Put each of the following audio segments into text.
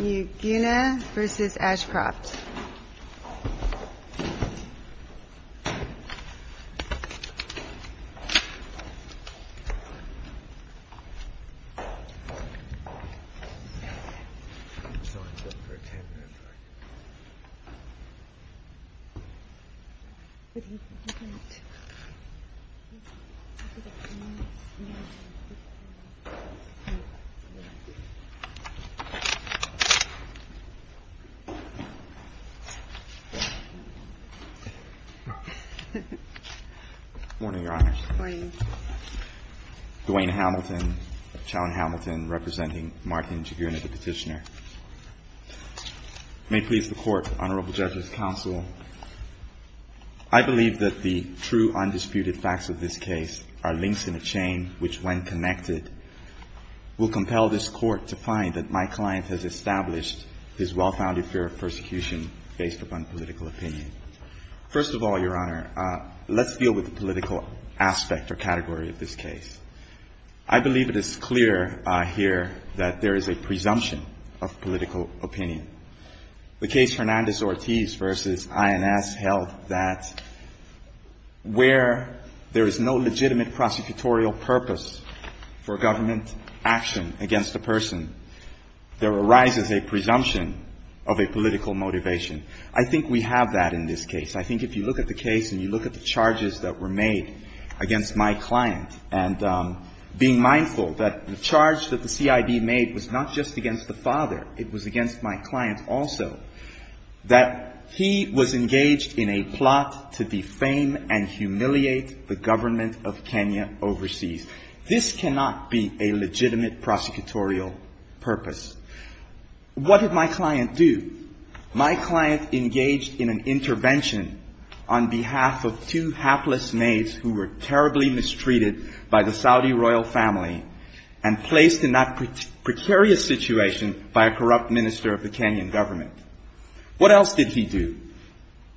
Njugana v. Ashcroft Dwayne Hamilton, Chow and Hamilton, representing Martin Njuguna, the petitioner. May it please the Court, Honorable Judges, Counsel, I believe that the true, undisputed facts of this case are links in a chain which, when connected, will compel this Court to find that my client has established his well-founded fear of persecution based upon political opinion. First of all, Your Honor, let's deal with the political aspect or category of this case. I believe it is clear here that there is a presumption of political opinion. The case Hernandez-Ortiz v. INS held that where there is no legitimate prosecutorial purpose for government action against a person, there arises a presumption of a political motivation. I think we have that in this case. I think if you look at the case and you look at the charges that were made against my client, and being mindful that the charge that the CIB made was not just against the father, it was against my client also, that he was engaged in a plot to defame and humiliate the government of Kenya overseas. This cannot be a legitimate prosecutorial purpose. What did my client do? My client engaged in an intervention on behalf of two hapless maids who were terribly mistreated by the Saudi royal family and placed in that precarious situation by a corrupt minister of the Kenyan government. What else did he do?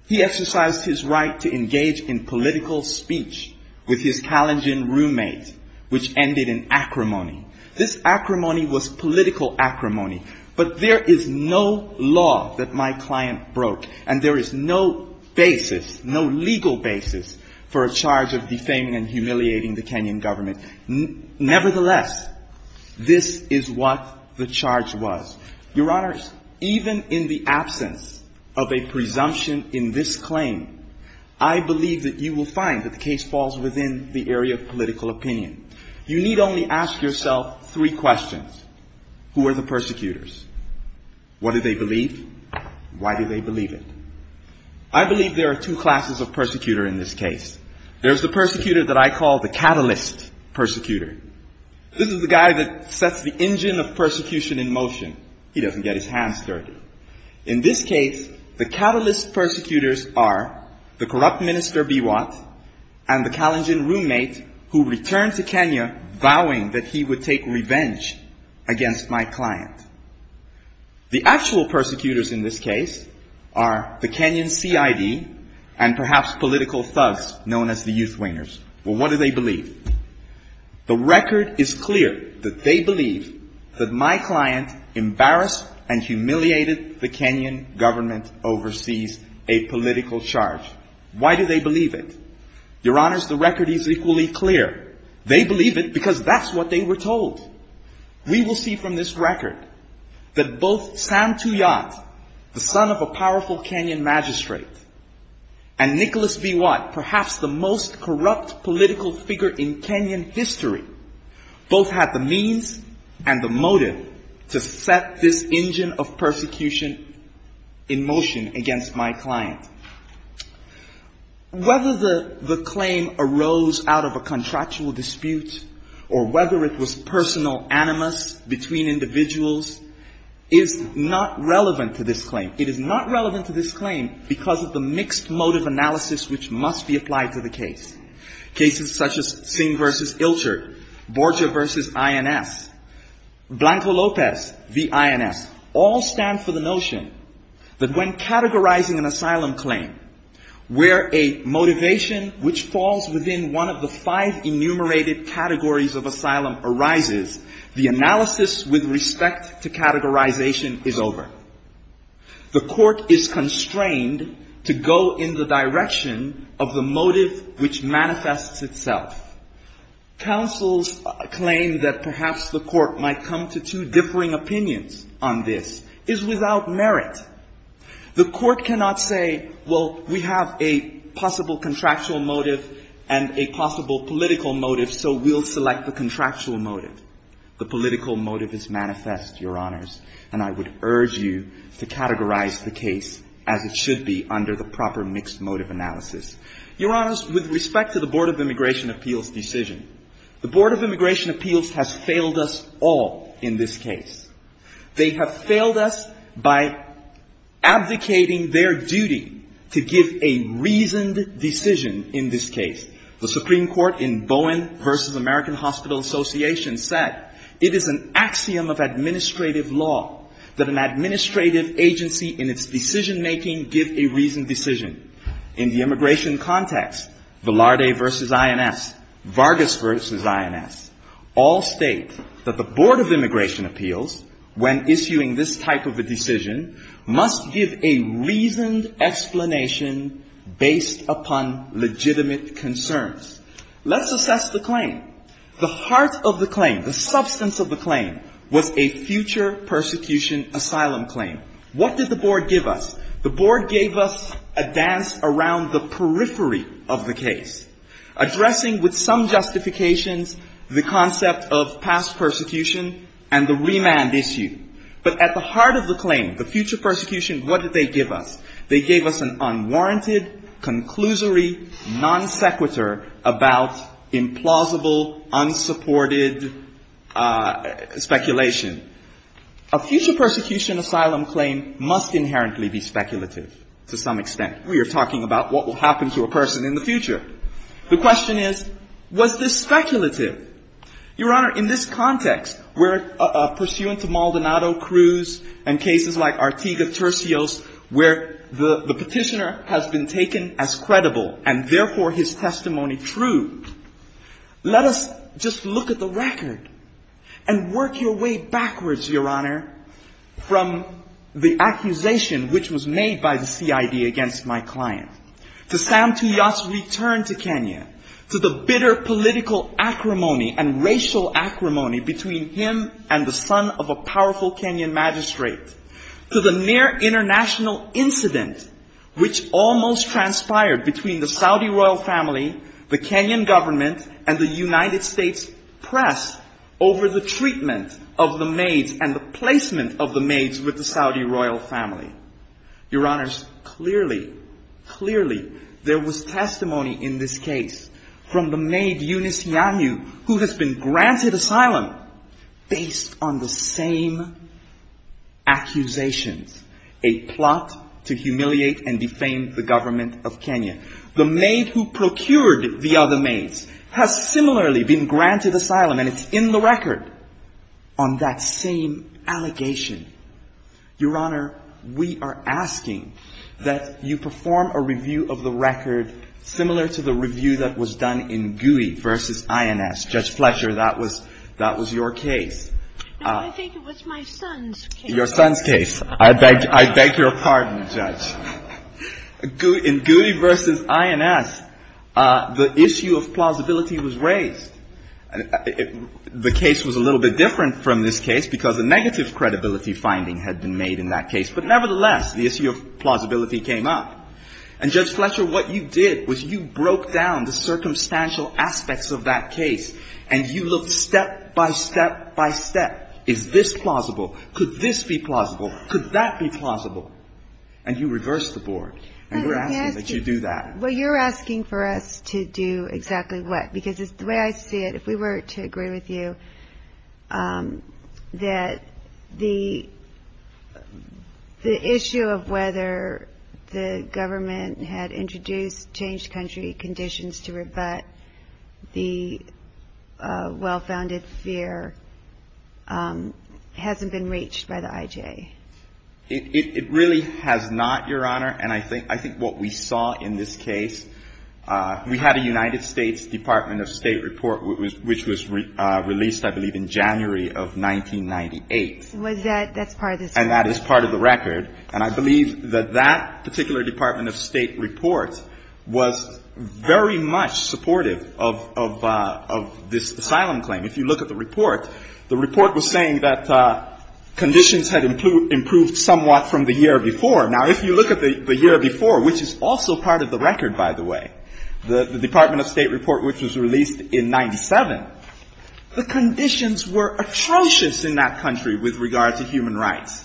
He exercised his right to engage in political speech with his Kalenjin roommate, which ended in acrimony. This acrimony was political acrimony, but there is no law that my client broke, and there is no basis, no legal basis for a charge of defaming and humiliating the Kenyan government. Nevertheless, this is what the charge was. Your Honors, even in the absence of a presumption in this claim, I believe that you will find that the case falls within the area of political opinion. You need only ask yourself three questions. Who are the persecutors? What do they believe? Why do they believe it? I believe there are two classes of persecutor in this case. There's the persecutor that I call the catalyst persecutor. This is the guy that sets the engine of persecution in motion. He doesn't get his hands dirty. In this case, the catalyst persecutors are the corrupt minister Biwat and the Kalenjin roommate who returned to Kenya vowing that he would take revenge against my client. The actual persecutors in this case are the Kenyan CID and perhaps political thugs known as the Youth Wingers. What do they believe? The record is clear that they believe that my client embarrassed and humiliated the Kenyan government overseas, a political charge. Why do they believe it? Your Honors, the record is equally clear. They believe it because that's what they were told. We will see from this record that both Sam Tuyat, the son of a powerful Kenyan magistrate, and Nicholas Biwat, perhaps the most corrupt political figure in Kenyan history, both had the means and the motive to set this engine of persecution in motion against my client. Whether the claim arose out of a contractual dispute or whether it was personal animus between individuals is not relevant to this claim. It is not relevant to this claim because of the mixed motive analysis which must be applied to the case. Cases such as Singh v. all stand for the notion that when categorizing an asylum claim, where a motivation which falls within one of the five enumerated categories of asylum arises, the analysis with respect to categorization is over. The court is constrained to go in the direction of the motive which manifests itself. Counsel's claim that perhaps the court might come to two differing opinions on this is without merit. The court cannot say, well, we have a possible contractual motive and a possible political motive, so we'll select the contractual motive. The political motive is manifest, Your Honors, and I would urge you to categorize the case as it should be under the proper mixed motive analysis. Your Honors, with respect to the Board of Immigration Appeals decision, the Board of Immigration Appeals has failed us all in this case. They have failed us by abdicating their duty to give a reasoned decision in this case. The Supreme Court in Bowen v. American Hospital Association said it is an axiom of administrative law that an administrative agency in its decision making give a reasoned decision. In the immigration context, Velarde v. INS, Vargas v. INS, all state that the Board of Immigration Appeals, when issuing this type of a decision, must give a reasoned explanation based upon legitimate concerns. Let's assess the claim. The heart of the claim, the substance of the claim, was a future persecution asylum claim. What did the Board give us? The Board gave us a dance around the periphery of the case, addressing with some justifications the concept of past persecution and the remand issue. But at the heart of the claim, the future persecution, what did they give us? They gave us an unwarranted, conclusory, non sequitur about implausible, unsupported speculation. A future persecution asylum claim must inherently be speculative to some extent. We are talking about what will happen to a person in the future. The question is, was this speculative? Your Honor, in this context, where pursuant to Maldonado, Cruz, and cases like Artiga, Tercios, where the petitioner has been taken as credible and therefore his testimony true, let us just look at the record and work your way backwards, Your Honor, from the accusation which was made by the CID against my client, to Sam Tuyas' return to Kenya, to the bitter political acrimony and racial acrimony between him and the son of a powerful Kenyan magistrate, to the near international incident which almost transpired between the Saudi royal family, the Kenyan government, and the United States press over the treatment of the maids and the placement of the maids with the Saudi royal family. Your Honors, clearly, clearly, there was testimony in this case from the maid Eunice Yanyu, who has been granted asylum based on the same accusations, a plot to humiliate and defame the government of Kenya. The maid who procured the other maids has similarly been granted asylum, and it's in the record on that same allegation. Your Honor, we are asking that you perform a review of the record similar to the review that was done in Gowdy v. INS. Judge Fletcher, that was your case. No, I think it was my son's case. Your son's case. I beg your pardon, Judge. In Gowdy v. INS, the issue of plausibility was raised. The case was a little bit different from this case because a negative credibility finding had been made in that case, but nevertheless, the issue of plausibility came up. And Judge Fletcher, what you did was you broke down the circumstantial aspects of that case, and you looked step by step by step. Is this plausible? Could this be plausible? Could that be plausible? And you reversed the board, and we're asking that you do that. Well, you're asking for us to do exactly what? Because the way I see it, if we were to agree with you, that the issue of whether the government had introduced changed country conditions to rebut the well-founded fear hasn't been reached by the I.J. It really has not, Your Honor. And I think what we saw in this case, we had a United States Department of State report which was released, I believe, in January of 1998. Was that? That's part of the story. And that is part of the record. And I believe that that particular Department of State report was very much supportive of this asylum claim. If you look at the report, the report was saying that conditions had improved somewhat from the year before. Now, if you look at the year before, which is also part of the record, by the way, the Department of State report which was released in 1997, the conditions were atrocious in that country with regard to human rights.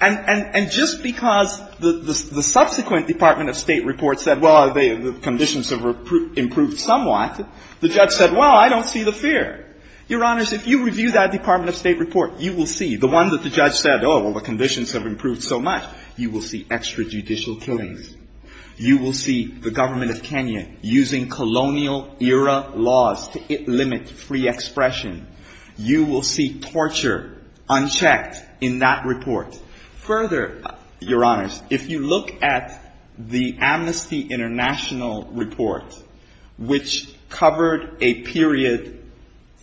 And just because the subsequent Department of State report said, well, the conditions have improved somewhat, the judge said, well, I don't see the fear. Your Honor, if you review that Department of State report, you will see. The one that the judge said, oh, well, the conditions have improved so much, you will see extrajudicial killings. You will see the government of Kenya using colonial-era laws to limit free expression. You will see that report. Further, Your Honors, if you look at the Amnesty International report, which covered a period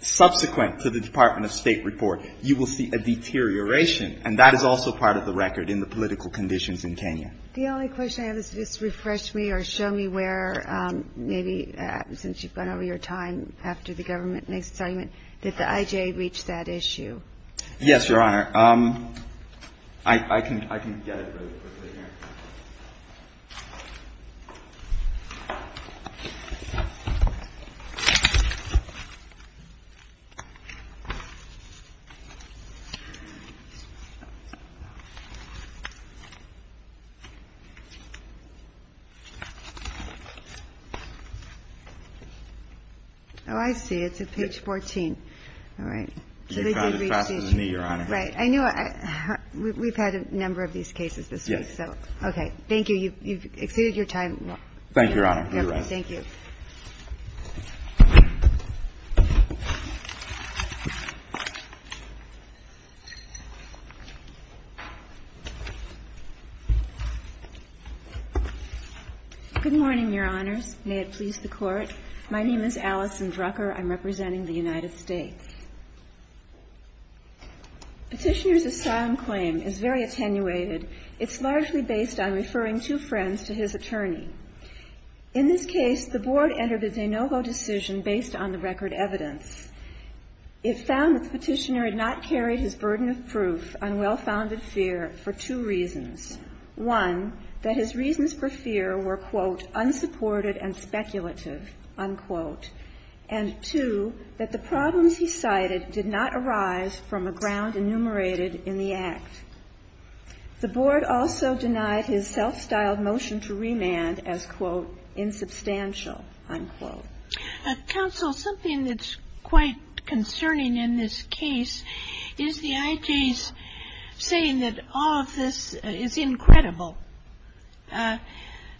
subsequent to the Department of State report, you will see a deterioration. And that is also part of the record in the political conditions in Kenya. The only question I have is just refresh me or show me where maybe, since you've gone over your time after the government makes its argument, did the IJA reach that issue? Yes, Your Honor. I can get it really quickly here. Oh, I see. It's at page 14. All right. You found it faster than me, Your Honor. Right. I knew we've had a number of these cases this week, so. Yes. Okay, thank you. You've exceeded your time. Thank you, Your Honor. Thank you. Good morning, Your Honors. May it please the Court. My name is Allyson Drucker. I'm representing the United States. Petitioner's asylum claim is very attenuated. It's largely based on referring two friends to his attorney. In this case, the Board entered a de novo decision based on the record evidence. It found that the petitioner had not carried his burden of proof on well-founded fear for two reasons. One, that his reasons for fear were, quote, and two, that the problems he cited did not arise from a ground enumerated in the act. The Board also denied his self-styled motion to remand as, quote, Counsel, something that's quite concerning in this case is the IJ's saying that all of this is incredible.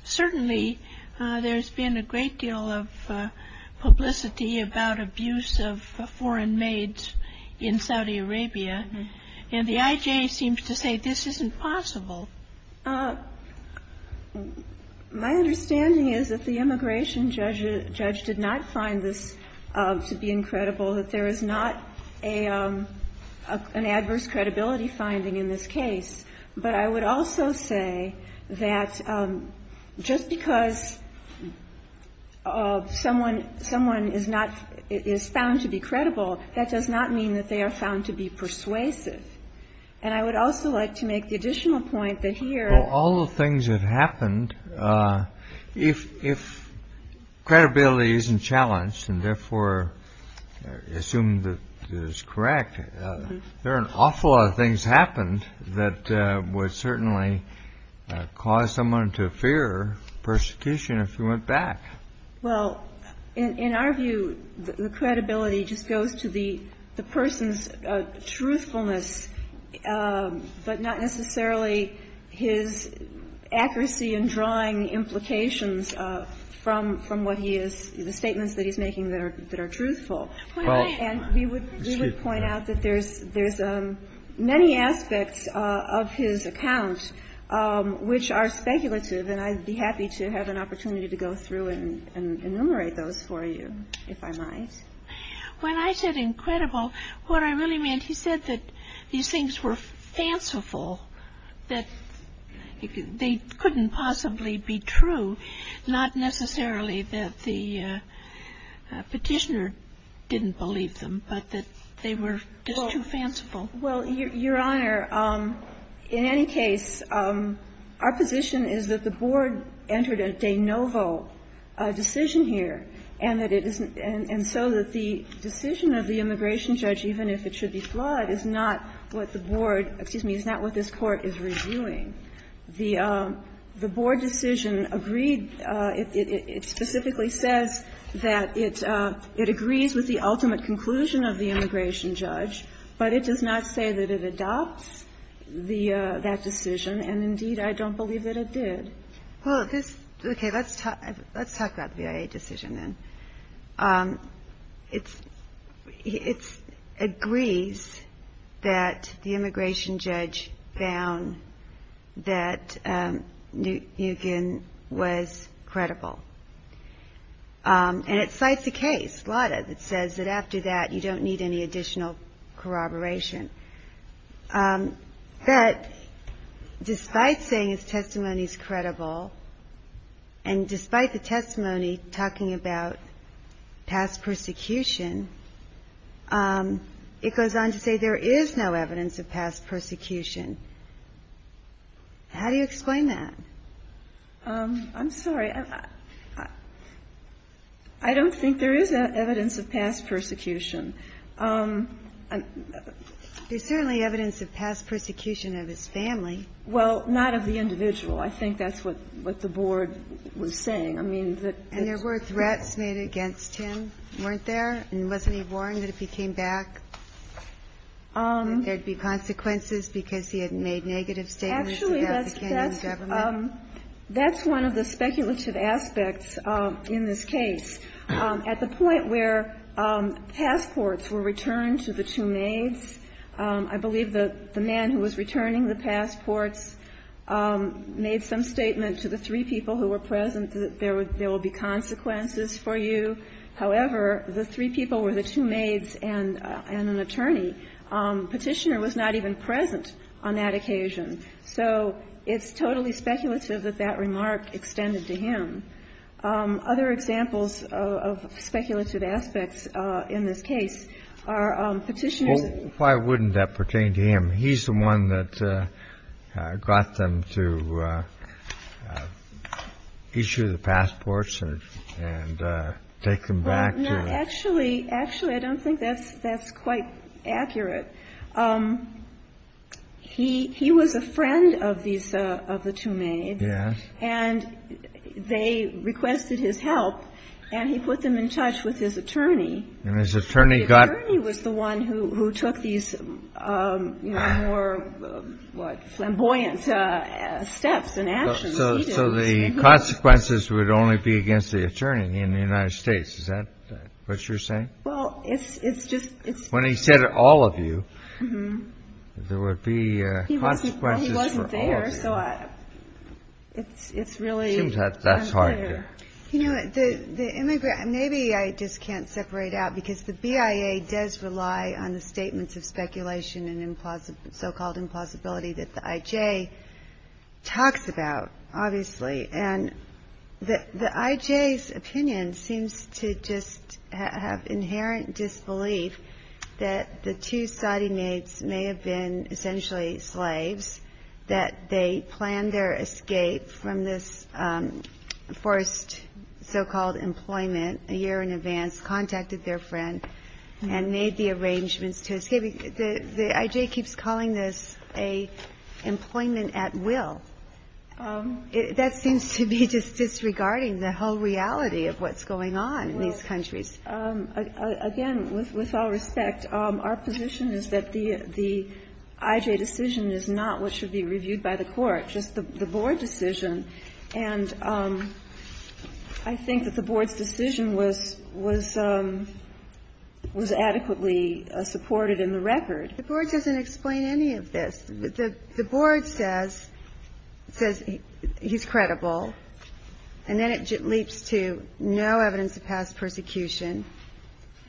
Certainly, there's been a great deal of publicity about abuse of foreign maids in Saudi Arabia. And the IJ seems to say this isn't possible. My understanding is that the immigration judge did not find this to be incredible, that there is not an adverse credibility finding in this case. But I would also say that just because someone is found to be credible, that does not mean that they are found to be persuasive. And I would also like to make the additional point that here all the things have happened. If credibility isn't challenged and therefore assumed that is correct, there are an awful lot of things happened that would certainly cause someone to fear persecution if he went back. Well, in our view, the credibility just goes to the person's truthfulness, but not necessarily his accuracy in drawing implications from what he is, the statements that he's making that are truthful. And we would point out that there's many aspects of his account which are speculative, and I'd be happy to have an opportunity to go through and enumerate those for you, if I might. When I said incredible, what I really meant, he said that these things were fanciful, that they couldn't possibly be true, not necessarily that the Petitioner didn't believe them, but that they were just too fanciful. Well, Your Honor, in any case, our position is that the Board entered a de novo decision here, and that it isn't – and so that the decision of the immigration judge, even if it should be flawed, is not what the Board – excuse me, is not what this Court is reviewing. The Board decision agreed – it specifically says that it agrees with the ultimate conclusion of the immigration judge, but it does not say that it adopts the – that decision, and indeed, I don't believe that it did. Well, this – okay, let's talk about the V.I.A. decision then. It's – it agrees that the immigration judge found that Nguyen was credible. And it cites a case, LADA, that says that after that, you don't need any additional corroboration. But despite saying his testimony is credible, and despite the testimony talking about past persecution, it goes on to say there is no evidence of past persecution. How do you explain that? I'm sorry. I don't think there is evidence of past persecution. There's certainly evidence of past persecution of his family. Well, not of the individual. I think that's what the Board was saying. I mean, that – And there were threats made against him, weren't there? And wasn't he warned that if he came back, there would be consequences because he had made negative statements about the Kenyan government? Actually, that's – that's one of the speculative aspects in this case. At the point where passports were returned to the two maids, I believe the man who was returning the passports made some statement to the three people who were present that there would be consequences for you. However, the three people were the two maids and an attorney. Petitioner was not even present on that occasion. So it's totally speculative that that remark extended to him. Other examples of speculative aspects in this case are Petitioner's – Well, why wouldn't that pertain to him? He's the one that got them to issue the passports and take them back to – Well, no. Actually, actually, I don't think that's quite accurate. He was a friend of these – of the two maids. Yes. And they requested his help, and he put them in touch with his attorney. And his attorney got – The attorney was the one who took these, you know, more, what, flamboyant steps and actions. So the consequences would only be against the attorney in the United States. Is that what you're saying? Well, it's just – When he said all of you, there would be consequences for all of you. So it's really unclear. It seems that's hard to – You know, the immigrant – maybe I just can't separate out because the BIA does rely on the statements of speculation and so-called implausibility that the IJ talks about, obviously. And the IJ's opinion seems to just have inherent disbelief that the two Saudi maids may have been essentially slaves, that they planned their escape from this forced so-called employment a year in advance, contacted their friend, and made the arrangements to escape. The IJ keeps calling this a employment at will. That seems to be just disregarding the whole reality of what's going on in these countries. Again, with all respect, our position is that the IJ decision is not what should be reviewed by the Court, just the Board decision. And I think that the Board's decision was adequately supported in the record. The Board doesn't explain any of this. The Board says he's credible, and then it leaps to no evidence of past persecution.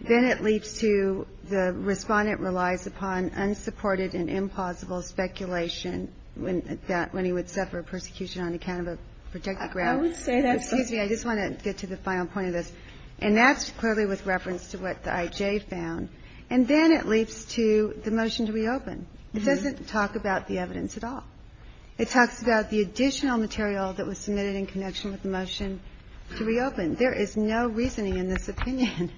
Then it leaps to the Respondent relies upon unsupported and implausible speculation when he would suffer persecution on account of a protected ground. I would say that's – Excuse me. I just want to get to the final point of this. And that's clearly with reference to what the IJ found. And then it leaps to the motion to reopen. It doesn't talk about the evidence at all. It talks about the additional material that was submitted in connection with the motion to reopen. There is no reasoning in this opinion.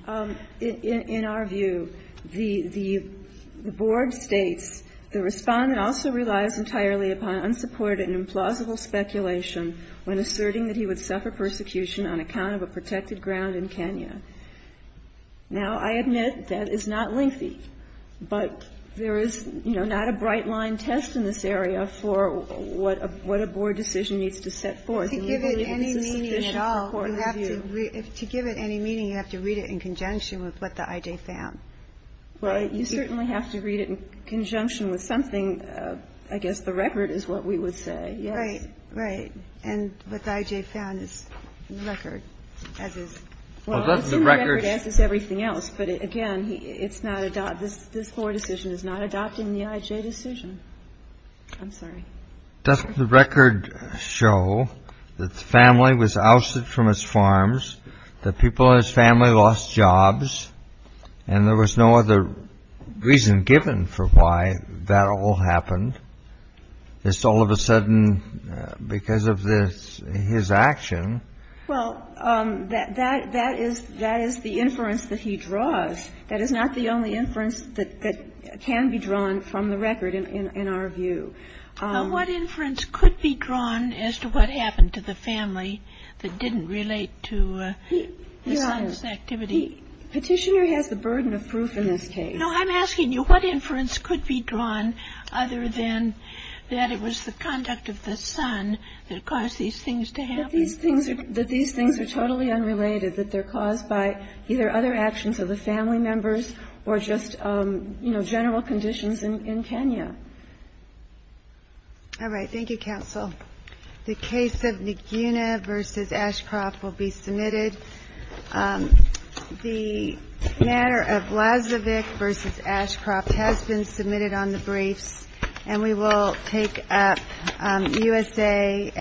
In our view, the Board states the Respondent also relies entirely upon unsupported and implausible speculation when asserting that he would suffer persecution on account of a protected ground in Kenya. Now, I admit that is not lengthy. But there is, you know, not a bright-line test in this area for what a Board decision needs to set forth. And we believe it's a sufficient point of view. To give it any meaning at all, you have to read it in conjunction with what the IJ found. Well, you certainly have to read it in conjunction with something. I guess the record is what we would say, yes. Right, right. And what the IJ found is the record as is. Well, I assume the record as is everything else. But, again, this Board decision is not adopting the IJ decision. I'm sorry. Doesn't the record show that the family was ousted from its farms, that people in his family lost jobs, and there was no other reason given for why that all happened, just all of a sudden because of his action? Well, that is the inference that he draws. That is not the only inference that can be drawn from the record in our view. What inference could be drawn as to what happened to the family that didn't relate to the son's activity? Petitioner has the burden of proof in this case. No, I'm asking you, what inference could be drawn other than that it was the conduct of the son that caused these things to happen? That these things are totally unrelated, that they're caused by either other actions of the family members or just, you know, general conditions in Kenya. All right. Thank you, counsel. The case of Naguna v. Ashcroft will be submitted. The matter of Lazovic v. Ashcroft has been submitted on the briefs, and we will take up U.S. Day.